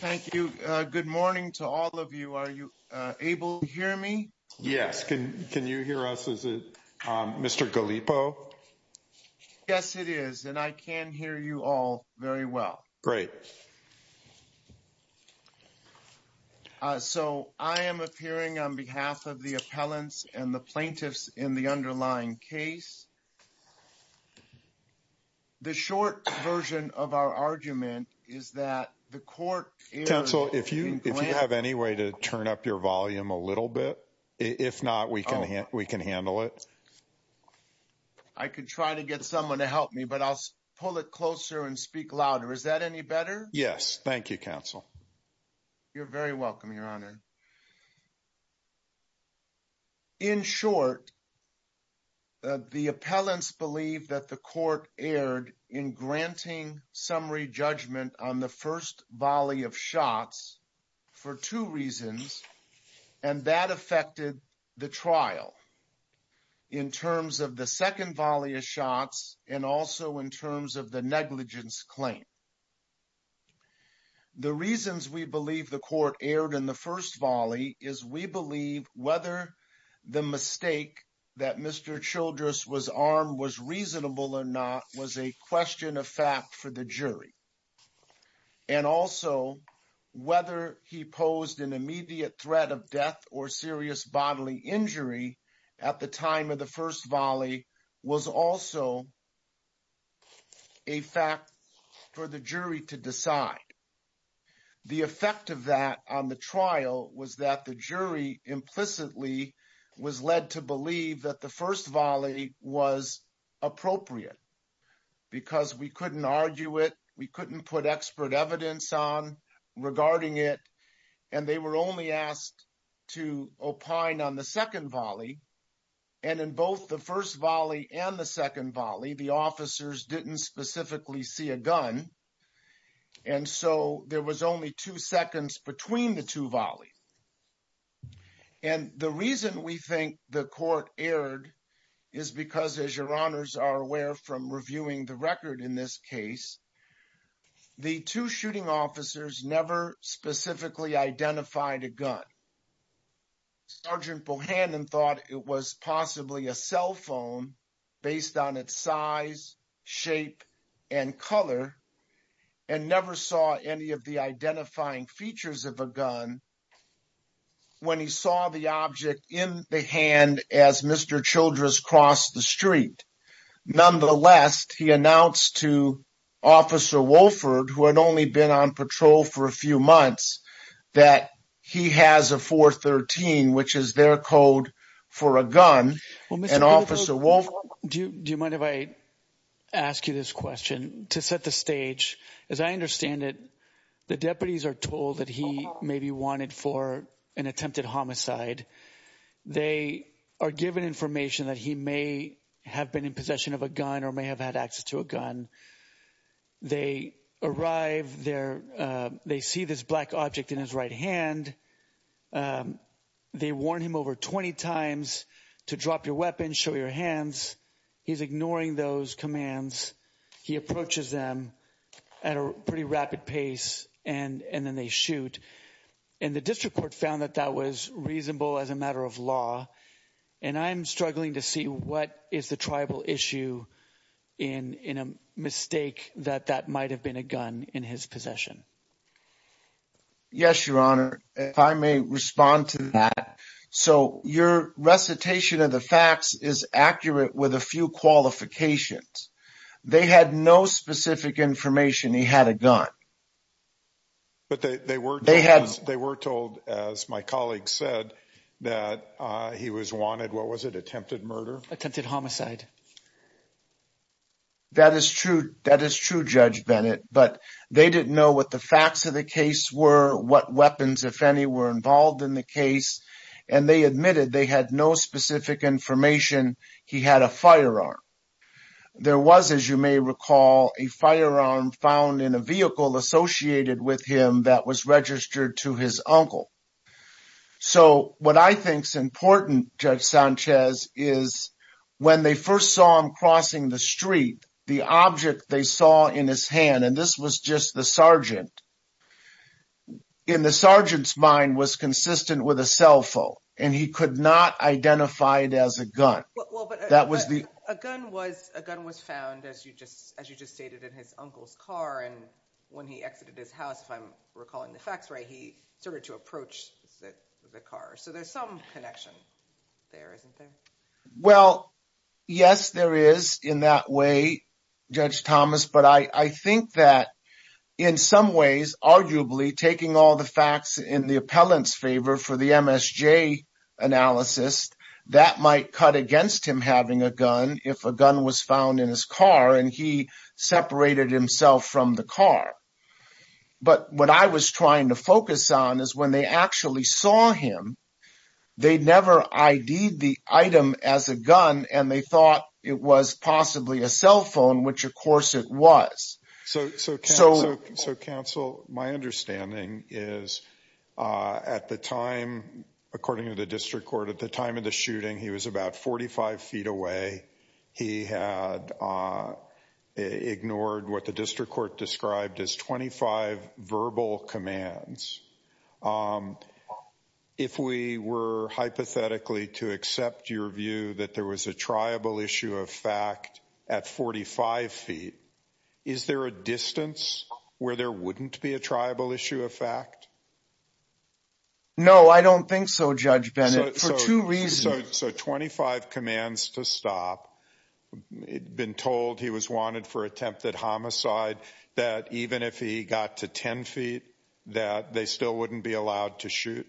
Thank you. Good morning to all of you. Are you able to hear me? Yes. Can you hear us? Is it Mr. Gallipo? Yes, it is. And I can hear you all very well. Great. So I am appearing on behalf of the appellants and the plaintiffs in the underlying case. The short version of our argument is that the court— Counsel, if you have any way to turn up your volume a little bit, if not, we can handle it. I can try to get someone to help me, but I'll pull it closer and speak louder. Is that any better? Yes. Thank you, counsel. You're very welcome, Your Honor. In short, the appellants believe that the court erred in granting summary judgment on the first volley of shots for two reasons, and that affected the trial in terms of the second volley of shots and also in terms of the negligence claim. The reasons we believe the court erred in the first volley is we believe whether the mistake that Mr. Childress was armed was reasonable or not was a question of fact for the jury. And also, whether he posed an immediate threat of death or serious bodily injury at the time of the first volley was also a fact for the jury to decide. The effect of that on the trial was that the jury implicitly was led to believe that the first volley was appropriate, because we couldn't argue it, we couldn't put expert evidence on regarding it, and they were only asked to opine on the second volley. And in both the first volley and the second volley, the officers didn't specifically see a gun, and so there was only two seconds between the two volleys. And the reason we think the court erred is because, as Your Honors are aware from reviewing the record in this case, the two shooting officers never specifically identified a gun. Sergeant Bohannon thought it was possibly a cell phone based on its size, shape, and color, and never saw any of the identifying features of a gun when he saw the object in the hand as Mr. Childress crossed the street. Nonetheless, he announced to Officer Wolford, who had only been on patrol for a few months, that he has a 413, which is their code for a gun, and Officer Wolford... Do you mind if I ask you this question? To set the stage, as I understand it, the deputies are told that he may be wanted for an attempted homicide. They are given information that he may have been in possession of a gun or may have had access to a gun. They arrive there. They see this black object in his right hand. They warn him over 20 times to drop your weapon, show your hands. He's ignoring those commands. He approaches them at a pretty rapid pace, and then they shoot. And the district court found that that was reasonable as a matter of law, and I'm struggling to see what is the tribal issue in a mistake that that might have been a gun in his possession. Yes, Your Honor. If I may respond to that. So your recitation of the facts is accurate with a few qualifications. They had no specific information he had a gun. But they were told, as my colleague said, that he was wanted. What was it? Attempted murder? Attempted homicide. That is true. That is true, Judge Bennett. But they didn't know what the facts of the case were, what weapons, if any, were involved in the case, and they admitted they had no specific information he had a firearm. There was, as you may recall, a firearm found in a vehicle associated with him that was registered to his uncle. So what I think is important, Judge Sanchez, is when they first saw him crossing the street, the object they saw in his hand, and this was just the sergeant, in the sergeant's mind was consistent with a cell phone, and he could not identify it as a gun. A gun was found, as you just stated, in his uncle's car, and when he exited his house, if I'm recalling the facts right, he started to approach the car. So there's some connection there, isn't there? Well, yes, there is in that way, Judge Thomas. But I think that in some ways, arguably, taking all the facts in the appellant's favor for the MSJ analysis, that might cut against him having a gun if a gun was found in his car and he separated himself from the car. But what I was trying to focus on is when they actually saw him, they never ID'd the item as a gun and they thought it was possibly a cell phone, which, of course, it was. So, counsel, my understanding is at the time, according to the district court, at the time of the shooting, he was about 45 feet away. He had ignored what the district court described as 25 verbal commands. If we were hypothetically to accept your view that there was a triable issue of fact at 45 feet, is there a distance where there wouldn't be a triable issue of fact? No, I don't think so, Judge Bennett, for two reasons. So 25 commands to stop. He'd been told he was wanted for attempted homicide, that even if he got to 10 feet, that they still wouldn't be allowed to shoot.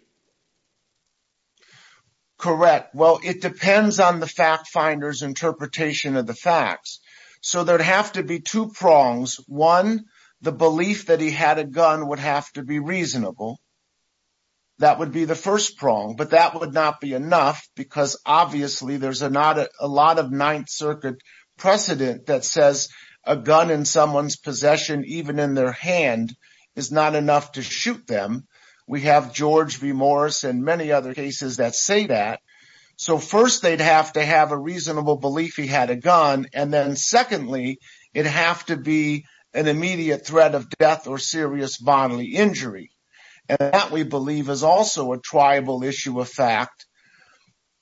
Correct. Well, it depends on the fact finder's interpretation of the facts. So there'd have to be two prongs. One, the belief that he had a gun would have to be reasonable. That would be the first prong. But that would not be enough because obviously there's a lot of Ninth Circuit precedent that says a gun in someone's possession, even in their hand, is not enough to shoot them. We have George v. Morris and many other cases that say that. So first, they'd have to have a reasonable belief he had a gun. And then secondly, it'd have to be an immediate threat of death or serious bodily injury. And that, we believe, is also a triable issue of fact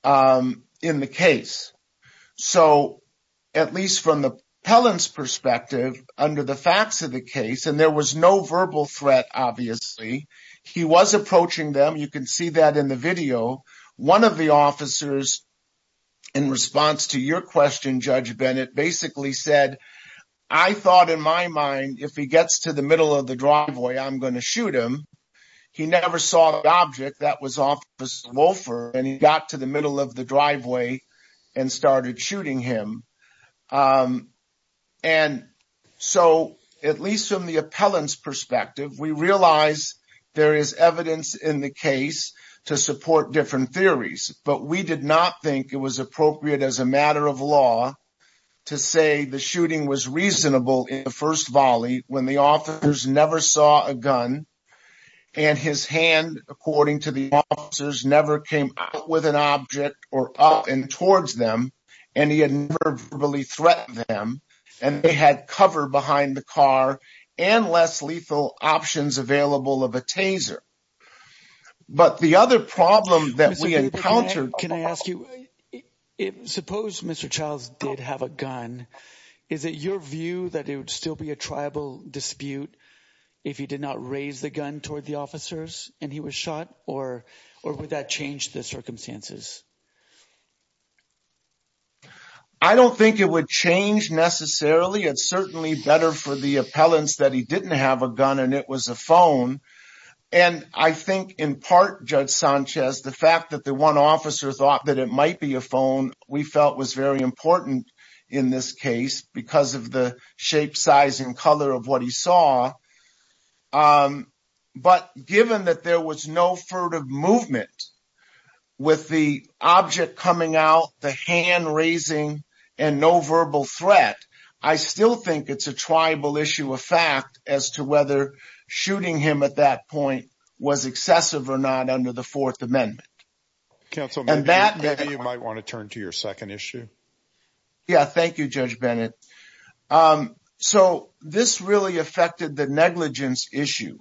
in the case. So at least from the appellant's perspective, under the facts of the case, and there was no verbal threat, obviously, he was approaching them. You can see that in the video. One of the officers, in response to your question, Judge Bennett, basically said, I thought in my mind, if he gets to the middle of the driveway, I'm going to shoot him. He never saw the object. That was Officer Wolfer. And he got to the middle of the driveway and started shooting him. And so, at least from the appellant's perspective, we realize there is evidence in the case to support different theories. But we did not think it was appropriate as a matter of law to say the shooting was reasonable in the first volley when the officers never saw a gun. And his hand, according to the officers, never came out with an object or up and towards them. And he had never verbally threatened them. And they had cover behind the car and less lethal options available of a taser. But the other problem that we encountered… Can I ask you, suppose Mr. Childs did have a gun. Is it your view that it would still be a tribal dispute if he did not raise the gun toward the officers and he was shot? Or would that change the circumstances? I don't think it would change necessarily. It's certainly better for the appellants that he didn't have a gun and it was a phone. And I think in part, Judge Sanchez, the fact that the one officer thought that it might be a phone we felt was very important in this case because of the shape, size, and color of what he saw. But given that there was no furtive movement with the object coming out, the hand raising, and no verbal threat… I still think it's a tribal issue of fact as to whether shooting him at that point was excessive or not under the Fourth Amendment. Counsel, maybe you might want to turn to your second issue. Yeah, thank you, Judge Bennett. So, this really affected the negligence issue.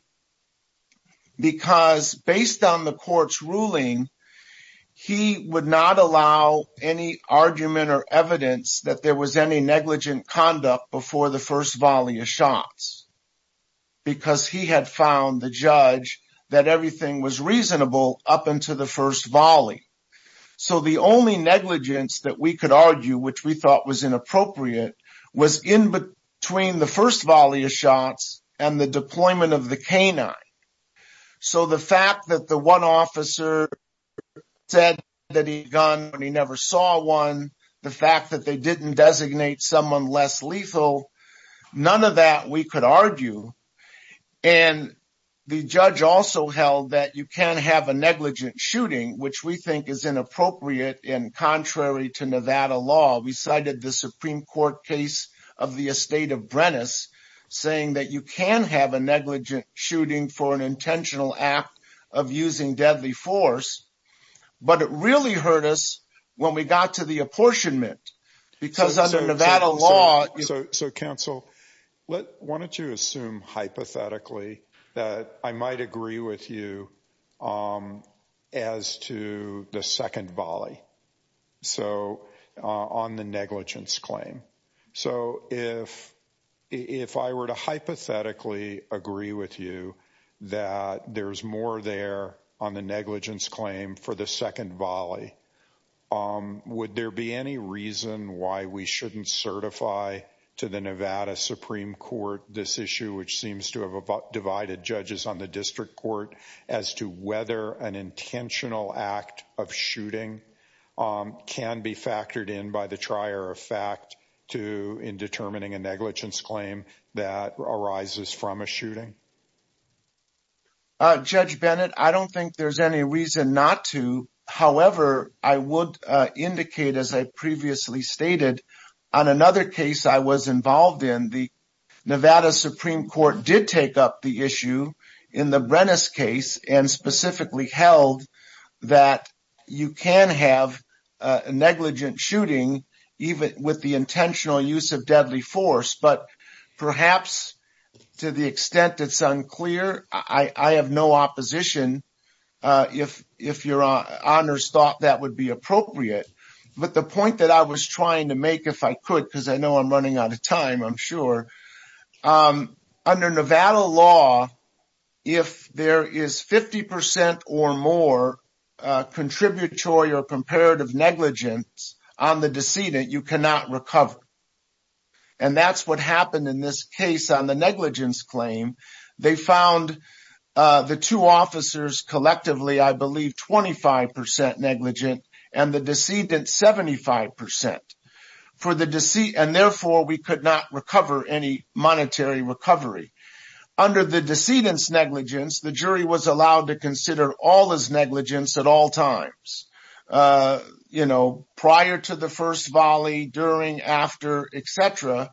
Because based on the court's ruling, he would not allow any argument or evidence that there was any negligent conduct before the first volley of shots. Because he had found the judge that everything was reasonable up until the first volley. So, the only negligence that we could argue, which we thought was inappropriate, was in between the first volley of shots and the deployment of the canine. So, the fact that the one officer said that he had a gun and he never saw one, the fact that they didn't designate someone less lethal, none of that we could argue. And the judge also held that you can have a negligent shooting, which we think is inappropriate and contrary to Nevada law. We cited the Supreme Court case of the estate of Brenes, saying that you can have a negligent shooting for an intentional act of using deadly force. But it really hurt us when we got to the apportionment. Because under Nevada law... So, counsel, why don't you assume hypothetically that I might agree with you as to the second volley. So, on the negligence claim. So, if I were to hypothetically agree with you that there's more there on the negligence claim for the second volley, would there be any reason why we shouldn't certify to the Nevada Supreme Court this issue which seems to have divided judges on the district court as to whether an intentional act of shooting can be factored in by the trier of fact in determining a negligence claim that arises from a shooting? Judge Bennett, I don't think there's any reason not to. However, I would indicate, as I previously stated, on another case I was involved in, the Nevada Supreme Court did take up the issue in the Brenes case and specifically held that you can have a negligent shooting, even with the intentional use of deadly force. But perhaps, to the extent it's unclear, I have no opposition if your honors thought that would be appropriate. But the point that I was trying to make, if I could, because I know I'm running out of time, I'm sure. Under Nevada law, if there is 50% or more contributory or comparative negligence on the decedent, you cannot recover. And that's what happened in this case on the negligence claim. They found the two officers collectively, I believe, 25% negligent and the decedent 75%. And therefore, we could not recover any monetary recovery. Under the decedent's negligence, the jury was allowed to consider all his negligence at all times. Prior to the first volley, during, after, etc.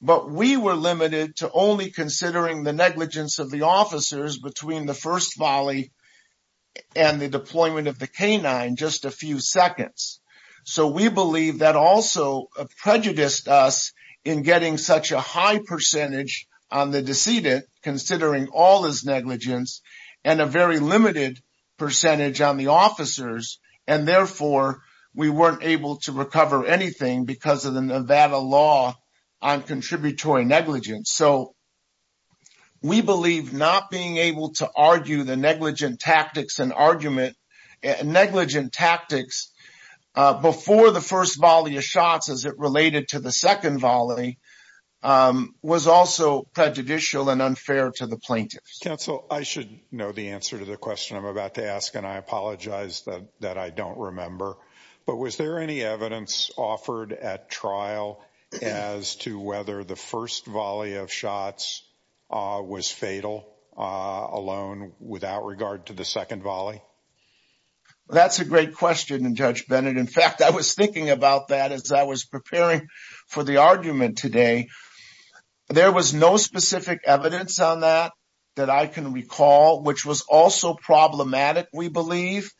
But we were limited to only considering the negligence of the officers between the first volley and the deployment of the canine, just a few seconds. So we believe that also prejudiced us in getting such a high percentage on the decedent, considering all his negligence, and a very limited percentage on the officers. And therefore, we weren't able to recover anything because of the Nevada law on contributory negligence. So we believe not being able to argue the negligent tactics and argument, negligent tactics before the first volley of shots as it related to the second volley, was also prejudicial and unfair to the plaintiffs. Counsel, I should know the answer to the question I'm about to ask, and I apologize that I don't remember. But was there any evidence offered at trial as to whether the first volley of shots was fatal alone without regard to the second volley? That's a great question, Judge Bennett. In fact, I was thinking about that as I was preparing for the argument today. There was no specific evidence on that that I can recall, which was also problematic, we believe,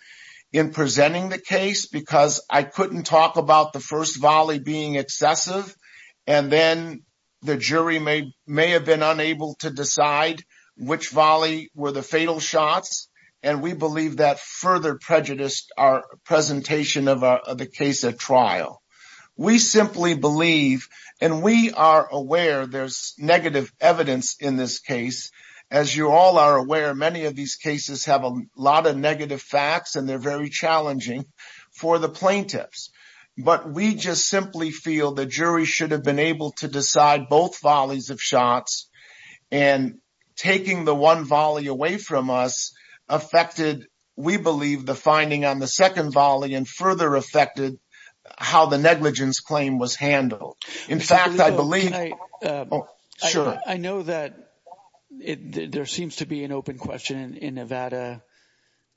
in presenting the case, because I couldn't talk about the first volley being excessive. And then the jury may have been unable to decide which volley were the fatal shots. And we believe that further prejudiced our presentation of the case at trial. We simply believe, and we are aware there's negative evidence in this case. As you all are aware, many of these cases have a lot of negative facts, and they're very challenging for the plaintiffs. But we just simply feel the jury should have been able to decide both volleys of shots. And taking the one volley away from us affected, we believe, the finding on the second volley, and further affected how the negligence claim was handled. In fact, I believe – I know that there seems to be an open question in Nevada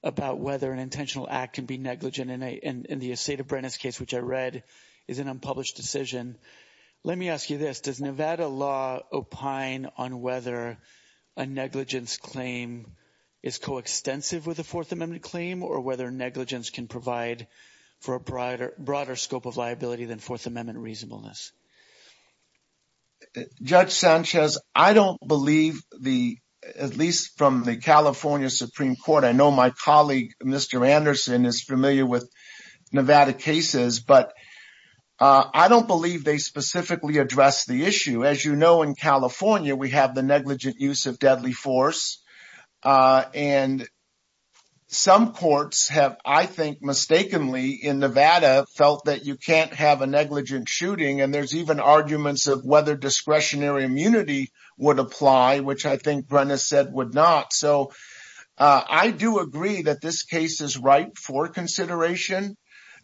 about whether an intentional act can be negligent. And in the Assata-Brennan case, which I read, is an unpublished decision. Let me ask you this. Does Nevada law opine on whether a negligence claim is coextensive with a Fourth Amendment claim, or whether negligence can provide for a broader scope of liability than Fourth Amendment reasonableness? Judge Sanchez, I don't believe the – at least from the California Supreme Court. I know my colleague, Mr. Anderson, is familiar with Nevada cases. But I don't believe they specifically address the issue. As you know, in California, we have the negligent use of deadly force. And some courts have, I think, mistakenly in Nevada, felt that you can't have a negligent shooting. And there's even arguments of whether discretionary immunity would apply, which I think Brenna said would not. So, I do agree that this case is right for consideration.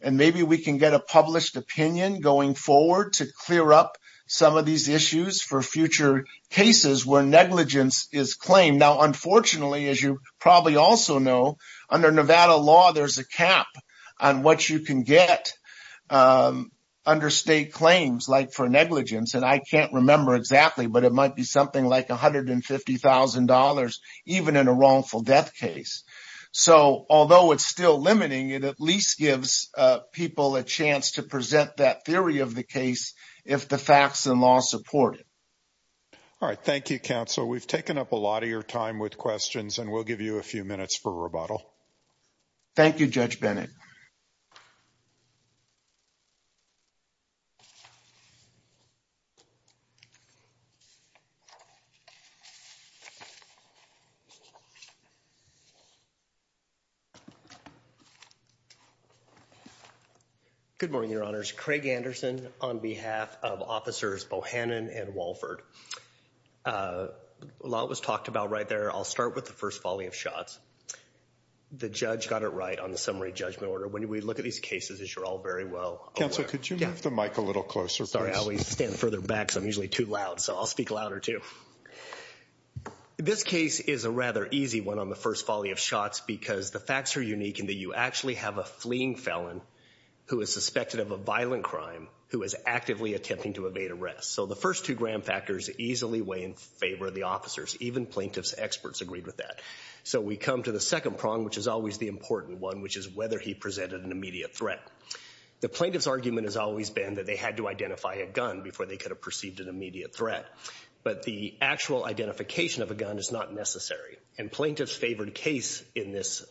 And maybe we can get a published opinion going forward to clear up some of these issues for future cases where negligence is claimed. Now, unfortunately, as you probably also know, under Nevada law, there's a cap on what you can get under state claims, like for negligence. And I can't remember exactly, but it might be something like $150,000, even in a wrongful death case. So, although it's still limiting, it at least gives people a chance to present that theory of the case if the facts and law support it. All right. Thank you, counsel. We've taken up a lot of your time with questions, and we'll give you a few minutes for rebuttal. Thank you, Judge Bennett. Good morning, Your Honors. Craig Anderson on behalf of Officers Bohannon and Walford. A lot was talked about right there. I'll start with the first folly of shots. The judge got it right on the summary judgment order. When we look at these cases, as you're all very well aware. Counsel, could you move the mic a little closer, please? Stand further back, because I'm usually too loud, so I'll speak louder, too. This case is a rather easy one on the first folly of shots, because the facts are unique in that you actually have a fleeing felon, who is suspected of a violent crime, who is actively attempting to evade arrest. So, the first two grand factors easily weigh in favor of the officers. Even plaintiff's experts agreed with that. So, we come to the second prong, which is always the important one, which is whether he presented an immediate threat. The plaintiff's argument has always been that they had to identify a gun before they could have perceived an immediate threat. But the actual identification of a gun is not necessary. And plaintiff's favored case in this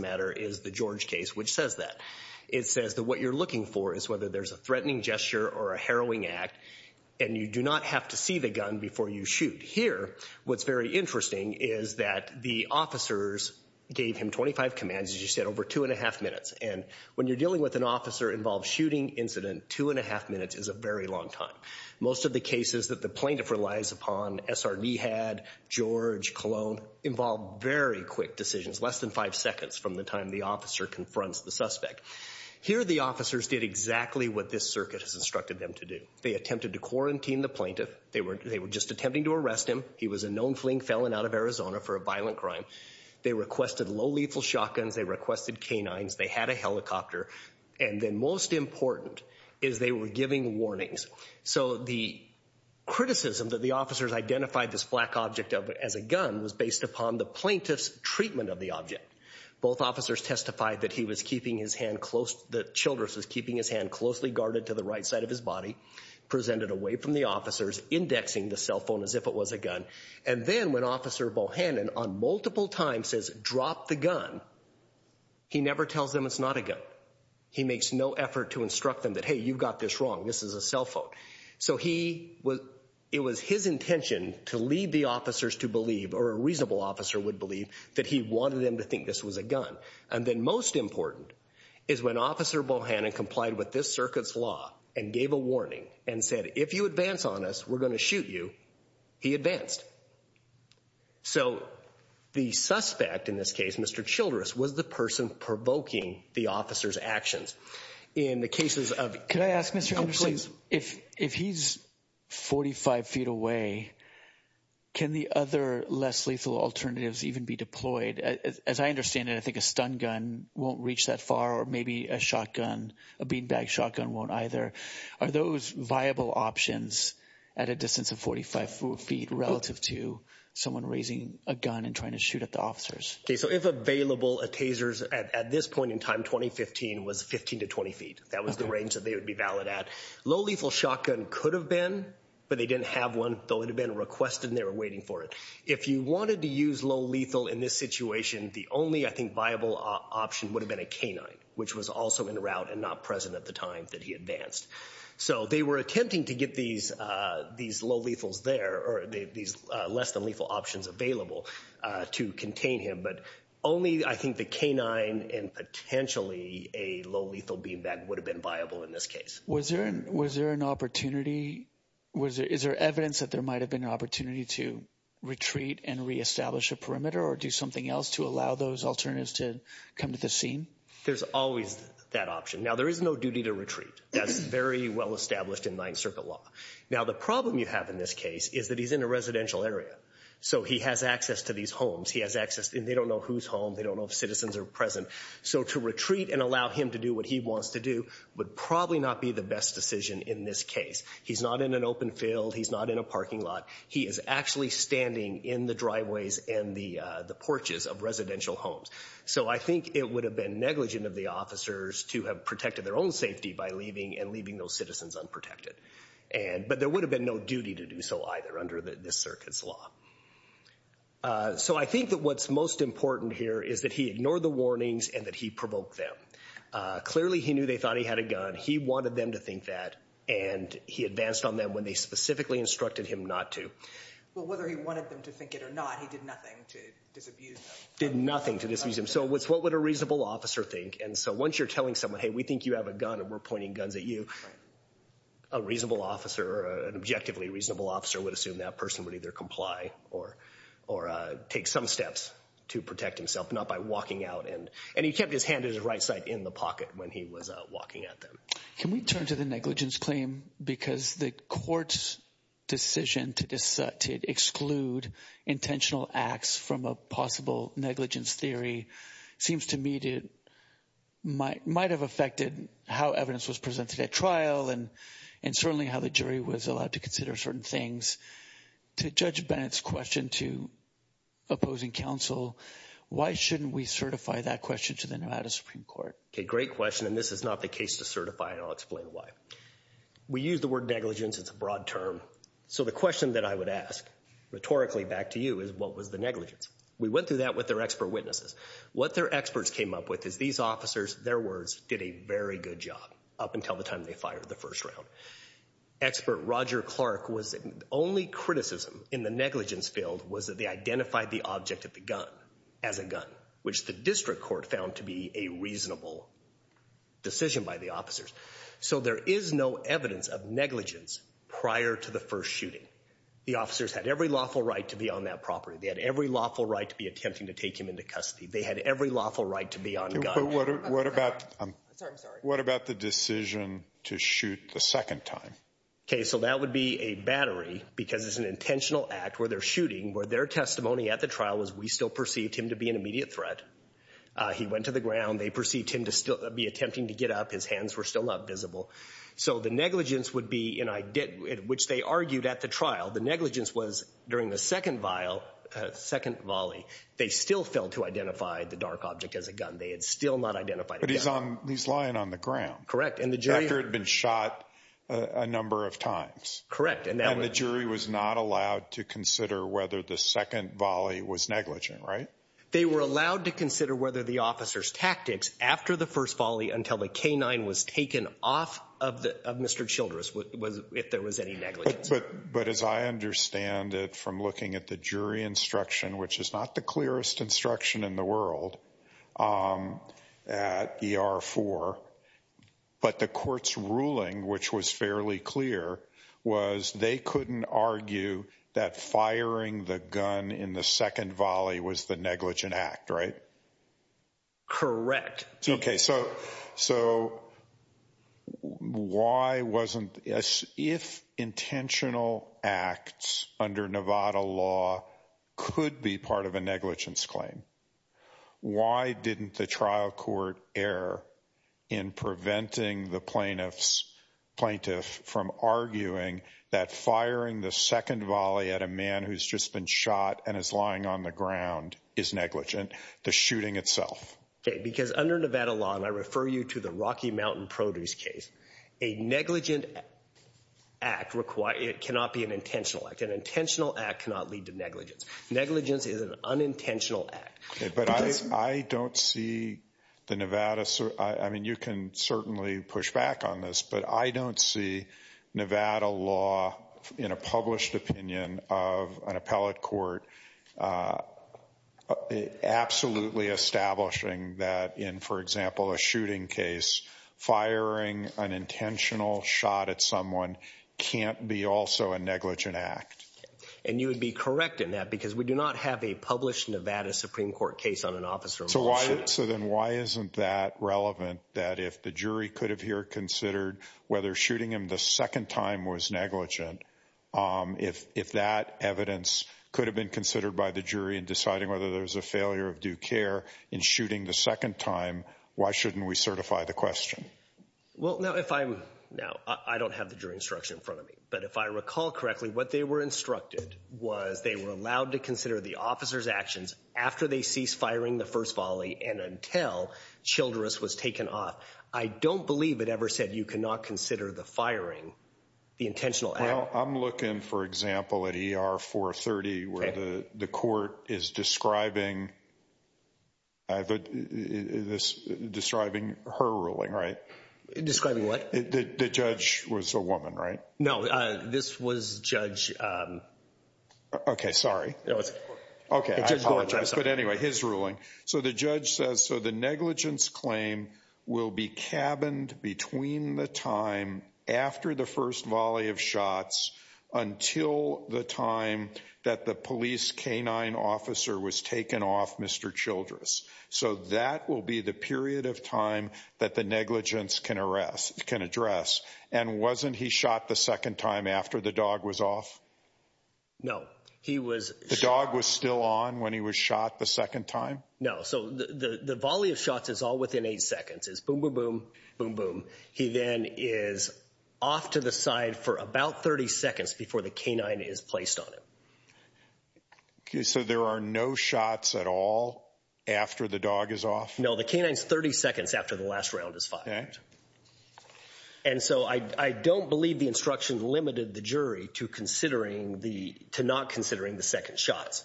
matter is the George case, which says that. It says that what you're looking for is whether there's a threatening gesture or a harrowing act, and you do not have to see the gun before you shoot. Here, what's very interesting is that the officers gave him 25 commands, as you said, over two and a half minutes. And when you're dealing with an officer-involved shooting incident, two and a half minutes is a very long time. Most of the cases that the plaintiff relies upon, SRD had, George, Cologne, involve very quick decisions, less than five seconds from the time the officer confronts the suspect. Here, the officers did exactly what this circuit has instructed them to do. They attempted to quarantine the plaintiff. They were just attempting to arrest him. He was a known fleeing felon out of Arizona for a violent crime. They requested low-lethal shotguns. They requested canines. They had a helicopter. And then most important is they were giving warnings. So the criticism that the officers identified this black object as a gun was based upon the plaintiff's treatment of the object. Both officers testified that he was keeping his hand close, that Childress was keeping his hand closely guarded to the right side of his body, presented away from the officers, indexing the cell phone as if it was a gun. And then when Officer Bohannon, on multiple times, says, drop the gun, he never tells them it's not a gun. He makes no effort to instruct them that, hey, you've got this wrong. This is a cell phone. So it was his intention to lead the officers to believe, or a reasonable officer would believe, that he wanted them to think this was a gun. And then most important is when Officer Bohannon complied with this circuit's law and gave a warning and said, if you advance on us, we're going to shoot you, he advanced. So the suspect in this case, Mr. Childress, was the person provoking the officers' actions. In the cases of— Could I ask, Mr. Anderson, if he's 45 feet away, can the other less lethal alternatives even be deployed? As I understand it, I think a stun gun won't reach that far, or maybe a shotgun, a beanbag shotgun won't either. Are those viable options at a distance of 45 feet relative to someone raising a gun and trying to shoot at the officers? Okay, so if available, a taser at this point in time, 2015, was 15 to 20 feet. That was the range that they would be valid at. Low lethal shotgun could have been, but they didn't have one. They would have been requested and they were waiting for it. If you wanted to use low lethal in this situation, the only, I think, viable option would have been a canine, which was also in route and not present at the time that he advanced. So they were attempting to get these low lethals there, or these less than lethal options available to contain him, but only, I think, the canine and potentially a low lethal beanbag would have been viable in this case. Was there an opportunity— Is there evidence that there might have been an opportunity to retreat and reestablish a perimeter or do something else to allow those alternatives to come to the scene? There's always that option. Now, there is no duty to retreat. That's very well established in Ninth Circuit law. Now, the problem you have in this case is that he's in a residential area, so he has access to these homes. He has access, and they don't know whose home. They don't know if citizens are present. So to retreat and allow him to do what he wants to do would probably not be the best decision in this case. He's not in an open field. He's not in a parking lot. He is actually standing in the driveways and the porches of residential homes. So I think it would have been negligent of the officers to have protected their own safety by leaving and leaving those citizens unprotected. But there would have been no duty to do so either under this circuit's law. So I think that what's most important here is that he ignored the warnings and that he provoked them. Clearly, he knew they thought he had a gun. He wanted them to think that, and he advanced on them when they specifically instructed him not to. Well, whether he wanted them to think it or not, he did nothing to disabuse them. Did nothing to disabuse them. So what would a reasonable officer think? And so once you're telling someone, hey, we think you have a gun and we're pointing guns at you, a reasonable officer or an objectively reasonable officer would assume that person would either comply or take some steps to protect himself, not by walking out. And he kept his hand to his right side in the pocket when he was walking at them. Can we turn to the negligence claim? Because the court's decision to exclude intentional acts from a possible negligence theory seems to me to might have affected how evidence was presented at trial and certainly how the jury was allowed to consider certain things. To Judge Bennett's question to opposing counsel, why shouldn't we certify that question to the Nevada Supreme Court? Okay, great question, and this is not the case to certify, and I'll explain why. We use the word negligence. It's a broad term. So the question that I would ask rhetorically back to you is what was the negligence? We went through that with their expert witnesses. What their experts came up with is these officers, their words, did a very good job up until the time they fired the first round. Expert Roger Clark was the only criticism in the negligence field was that they identified the object of the gun as a gun, which the district court found to be a reasonable decision by the officers. So there is no evidence of negligence prior to the first shooting. The officers had every lawful right to be on that property. They had every lawful right to be attempting to take him into custody. They had every lawful right to be on gun. But what about the decision to shoot the second time? Okay, so that would be a battery because it's an intentional act where they're shooting, where their testimony at the trial was we still perceived him to be an immediate threat. He went to the ground. They perceived him to still be attempting to get up. His hands were still not visible. So the negligence would be, which they argued at the trial, the negligence was during the second volley, they still failed to identify the dark object as a gun. They had still not identified a gun. But he's lying on the ground. Correct. After he'd been shot a number of times. Correct. And the jury was not allowed to consider whether the second volley was negligent, right? They were allowed to consider whether the officer's tactics after the first volley until the K-9 was taken off of Mr. Childress, if there was any negligence. But as I understand it from looking at the jury instruction, which is not the clearest instruction in the world at ER-4, but the court's ruling, which was fairly clear, was they couldn't argue that firing the gun in the second volley was the negligent act, right? Correct. Okay, so why wasn't, if intentional acts under Nevada law could be part of a negligence claim, why didn't the trial court err in preventing the plaintiff from arguing that firing the second volley at a man who's just been shot and is lying on the ground is negligent? The shooting itself. Okay, because under Nevada law, and I refer you to the Rocky Mountain Produce case, a negligent act cannot be an intentional act. An intentional act cannot lead to negligence. Negligence is an unintentional act. But I don't see the Nevada, I mean you can certainly push back on this, but I don't see Nevada law in a published opinion of an appellate court absolutely establishing that in, for example, a shooting case, firing an intentional shot at someone can't be also a negligent act. And you would be correct in that, because we do not have a published Nevada Supreme Court case on an officer. So then why isn't that relevant, that if the jury could have here considered whether shooting him the second time was negligent, if that evidence could have been considered by the jury in deciding whether there was a failure of due care in shooting the second time, why shouldn't we certify the question? Well, now if I'm, now I don't have the jury instruction in front of me, but if I recall correctly, what they were instructed was they were allowed to consider the officer's actions after they ceased firing the first volley and until Childress was taken off. I don't believe it ever said you cannot consider the firing the intentional act. Well, I'm looking, for example, at ER 430, where the court is describing her ruling, right? Describing what? The judge was a woman, right? No, this was judge... Okay, sorry. Okay, I apologize. But anyway, his ruling. So the judge says, so the negligence claim will be cabined between the time after the first volley of shots until the time that the police canine officer was taken off Mr. Childress. So that will be the period of time that the negligence can address. And wasn't he shot the second time after the dog was off? No, he was... The dog was still on when he was shot the second time? No, so the volley of shots is all within eight seconds. It's boom, boom, boom, boom, boom. He then is off to the side for about 30 seconds before the canine is placed on him. Okay, so there are no shots at all after the dog is off? No, the canine's 30 seconds after the last round is fired. Okay. And so I don't believe the instruction limited the jury to not considering the second shots.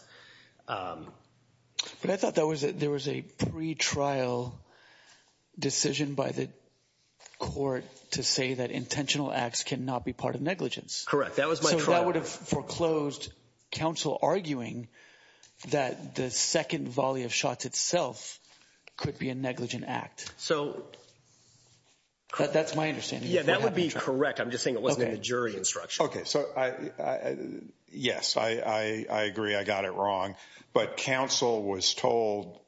But I thought there was a pre-trial decision by the court to say that intentional acts cannot be part of negligence. Correct, that was my... So that would have foreclosed counsel arguing that the second volley of shots itself could be a negligent act. So... That's my understanding. Yeah, that would be correct. I'm just saying it wasn't in the jury instruction. Okay, so yes, I agree I got it wrong. But counsel was told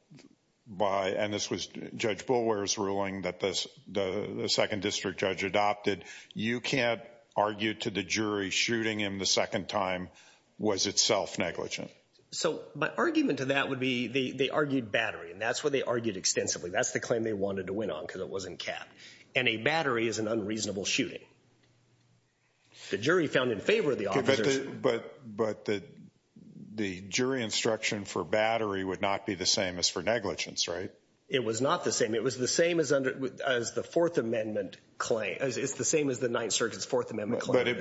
by, and this was Judge Boulware's ruling that the second district judge adopted, you can't argue to the jury shooting him the second time was itself negligent. So my argument to that would be they argued battery, and that's what they argued extensively. That's the claim they wanted to win on because it wasn't cat. And a battery is an unreasonable shooting. The jury found in favor of the officers... But the jury instruction for battery would not be the same as for negligence, right? It was not the same. It was the same as the Fourth Amendment claim. It's the same as the Ninth Circuit's Fourth Amendment claim.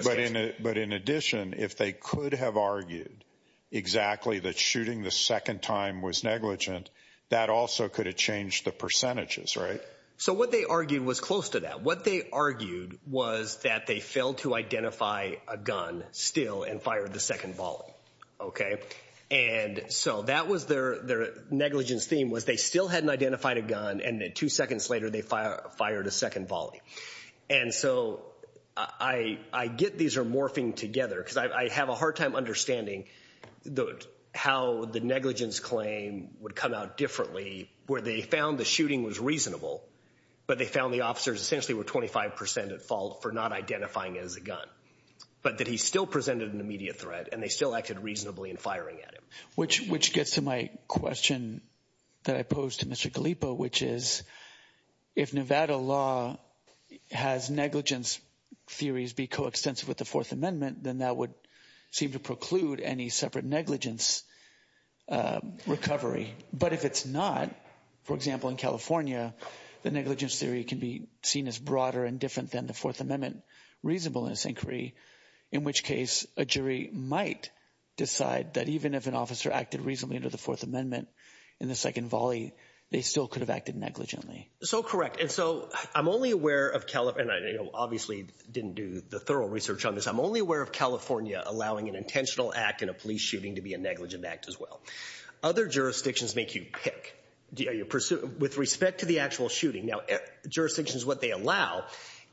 But in addition, if they could have argued exactly that shooting the second time was negligent, that also could have changed the percentages, right? So what they argued was close to that. What they argued was that they failed to identify a gun still and fired the second volley, okay? And so that was their negligence theme was they still hadn't identified a gun and then two seconds later they fired a second volley. And so I get these are morphing together because I have a hard time understanding how the negligence claim would come out differently where they found the shooting was reasonable, but they found the officers essentially were 25% at fault for not identifying it as a gun, but that he still presented an immediate threat and they still acted reasonably in firing at him. Which gets to my question that I posed to Mr. Gallipo, which is if Nevada law has negligence theories be coextensive with the Fourth Amendment, then that would seem to preclude any separate negligence recovery. But if it's not, for example, in California, the negligence theory can be seen as broader and different than the Fourth Amendment reasonable in this inquiry, in which case a jury might decide that even if an officer acted reasonably under the Fourth Amendment in the second volley, they still could have acted negligently. So correct. And so I'm only aware of California, and I obviously didn't do the thorough research on this. I'm only aware of California allowing an intentional act in a police shooting to be a negligent act as well. Other jurisdictions make you pick. With respect to the actual shooting, now jurisdictions what they allow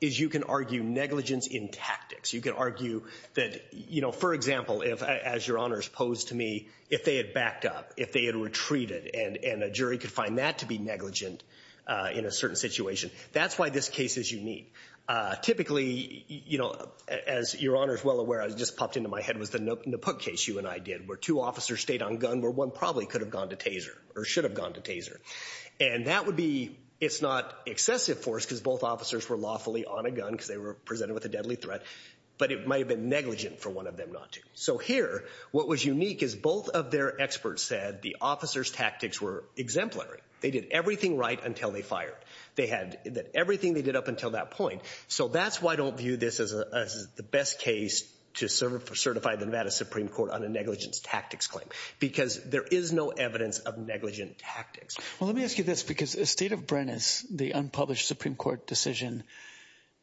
is you can argue negligence in tactics. You can argue that, you know, for example, as Your Honors posed to me, if they had backed up, if they had retreated, and a jury could find that to be negligent in a certain situation, that's why this case is unique. Typically, you know, as Your Honors well aware, it just popped into my head, was the Napook case you and I did, where two officers stayed on gun where one probably could have gone to taser or should have gone to taser. And that would be, it's not excessive force because both officers were lawfully on a gun because they were presented with a deadly threat, but it might have been negligent for one of them not to. So here, what was unique is both of their experts said the officer's tactics were exemplary. They did everything right until they fired. They had everything they did up until that point. So that's why I don't view this as the best case to certify the Nevada Supreme Court on a negligence tactics claim because there is no evidence of negligent tactics. Well, let me ask you this because the state of Brennan's, the unpublished Supreme Court decision,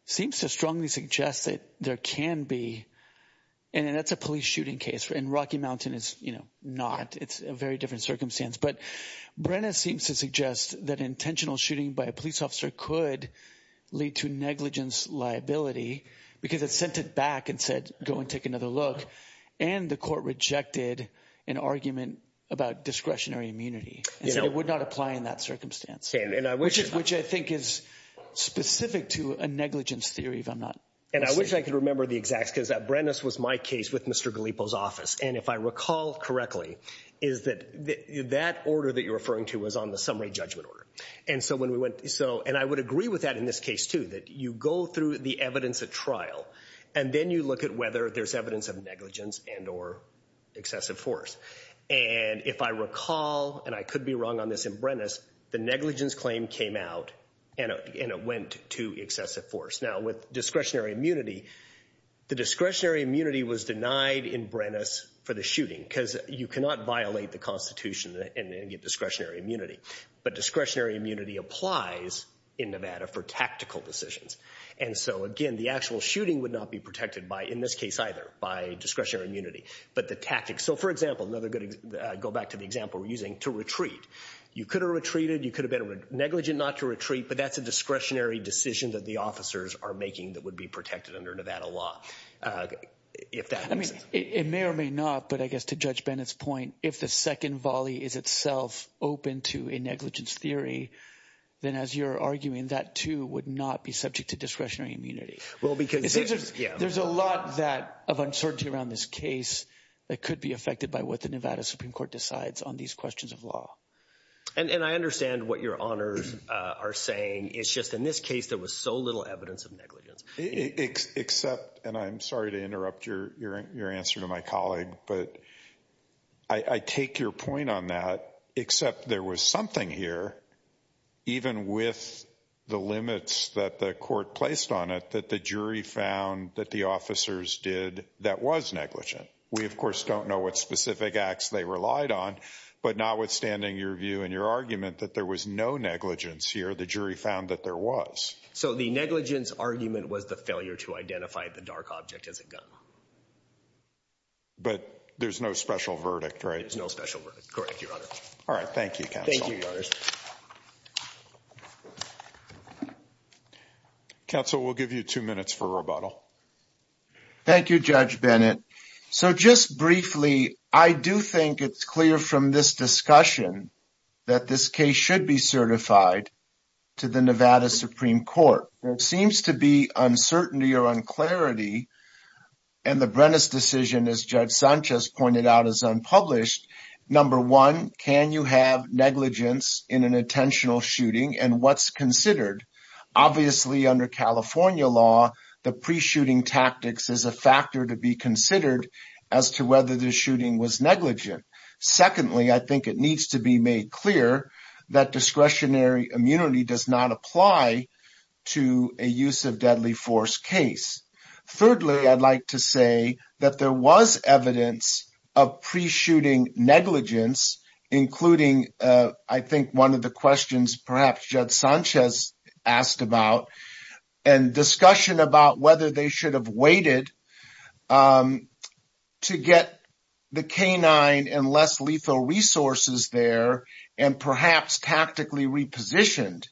seems to strongly suggest that there can be, and that's a police shooting case, and Rocky Mountain is not, it's a very different circumstance. But Brennan seems to suggest that intentional shooting by a police officer could lead to negligence liability because it sent it back and said, go and take another look. And the court rejected an argument about discretionary immunity. It would not apply in that circumstance. Which I think is specific to a negligence theory, if I'm not mistaken. And I wish I could remember the exacts because Brennan's was my case with Mr. Galipo's office. And if I recall correctly, is that that order that you're referring to was on the summary judgment order. And so when we went, and I would agree with that in this case too, that you go through the evidence at trial and then you look at whether there's evidence of negligence and or excessive force. And if I recall, and I could be wrong on this in Brennan's, the negligence claim came out and it went to excessive force. Now with discretionary immunity, the discretionary immunity was denied in Brennan's for the shooting because you cannot violate the constitution and get discretionary immunity. But discretionary immunity applies in Nevada for tactical decisions. And so again, the actual shooting would not be protected by, in this case either, by discretionary immunity, but the tactics. So for example, another good example, go back to the example we're using, to retreat. You could have retreated, you could have been negligent not to retreat, but that's a discretionary decision that the officers are making that would be protected under Nevada law. If that makes sense. It may or may not, but I guess to Judge Bennett's point, if the second volley is itself open to a negligence theory, then as you're arguing, that too would not be subject to discretionary immunity. Well, because... There's a lot of uncertainty around this case that could be affected by what the Nevada Supreme Court decides on these questions of law. And I understand what your honors are saying. It's just in this case, there was so little evidence of negligence. Except, and I'm sorry to interrupt your answer to my colleague, but I take your point on that, except there was something here, even with the limits that the court placed on it, that the jury found that the officers did that was negligent. We of course don't know what specific acts they relied on, but notwithstanding your view and your argument that there was no negligence here, the jury found that there was. So the negligence argument was the failure to identify the dark object as a gun. But there's no special verdict, right? There's no special verdict. Correct, your honor. All right. Thank you, counsel. Thank you, your honors. Counsel, we'll give you two minutes for rebuttal. Thank you, Judge Bennett. So just briefly, I do think it's clear from this discussion that this case should be certified to the Nevada Supreme Court. There seems to be uncertainty or unclarity and the Brennis decision, as Judge Sanchez pointed out, is unpublished. Number one, can you have negligence in an intentional shooting and what's considered? Obviously under California law, the pre-shooting tactics is a factor to be considered as to whether the shooting was negligent. Secondly, I think it needs to be made clear that discretionary immunity does not apply to a use of deadly force case. Thirdly, I'd like to say that there was evidence of pre-shooting negligence, including I think one of the questions perhaps Judge Sanchez asked about and discussion about whether they should have waited to get the canine and less lethal resources there and perhaps tactically repositioned.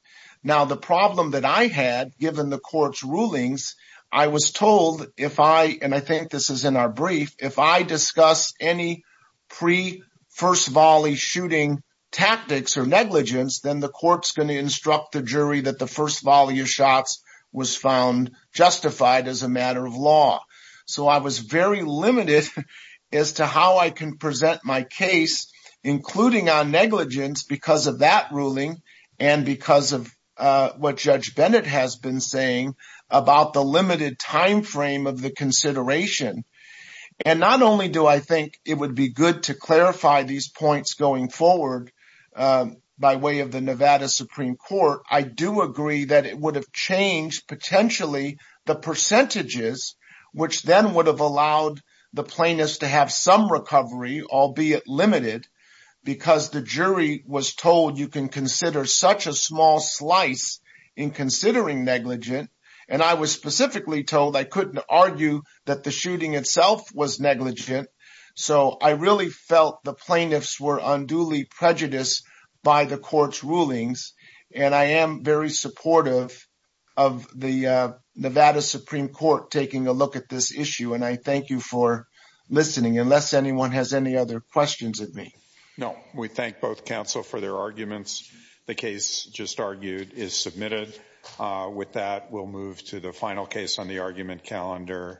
Now the problem that I had, given the court's rulings, I was told if I, and I think this is in our brief, if I discuss any pre-first volley shooting tactics or negligence, then the court's going to instruct the jury that the first volley of shots was found justified as a matter of law. So I was very limited as to how I can present my case, including on negligence because of that ruling and because of what Judge Bennett has been saying about the limited timeframe of the consideration. And not only do I think it would be good to clarify these points going forward by way of the Nevada Supreme Court, I do agree that it would have changed potentially the percentages, which then would have allowed the plaintiffs to have some recovery, albeit limited, because the jury was told you can consider such a small slice in considering negligent. And I was specifically told I couldn't argue that the shooting itself was negligent. So I really felt the plaintiffs were unduly prejudiced by the court's rulings. And I am very supportive of the Nevada Supreme Court taking a look at this issue, and I thank you for listening, unless anyone has any other questions of me. No, we thank both counsel for their arguments. The case just argued is submitted. With that, we'll move to the final case on the argument calendar.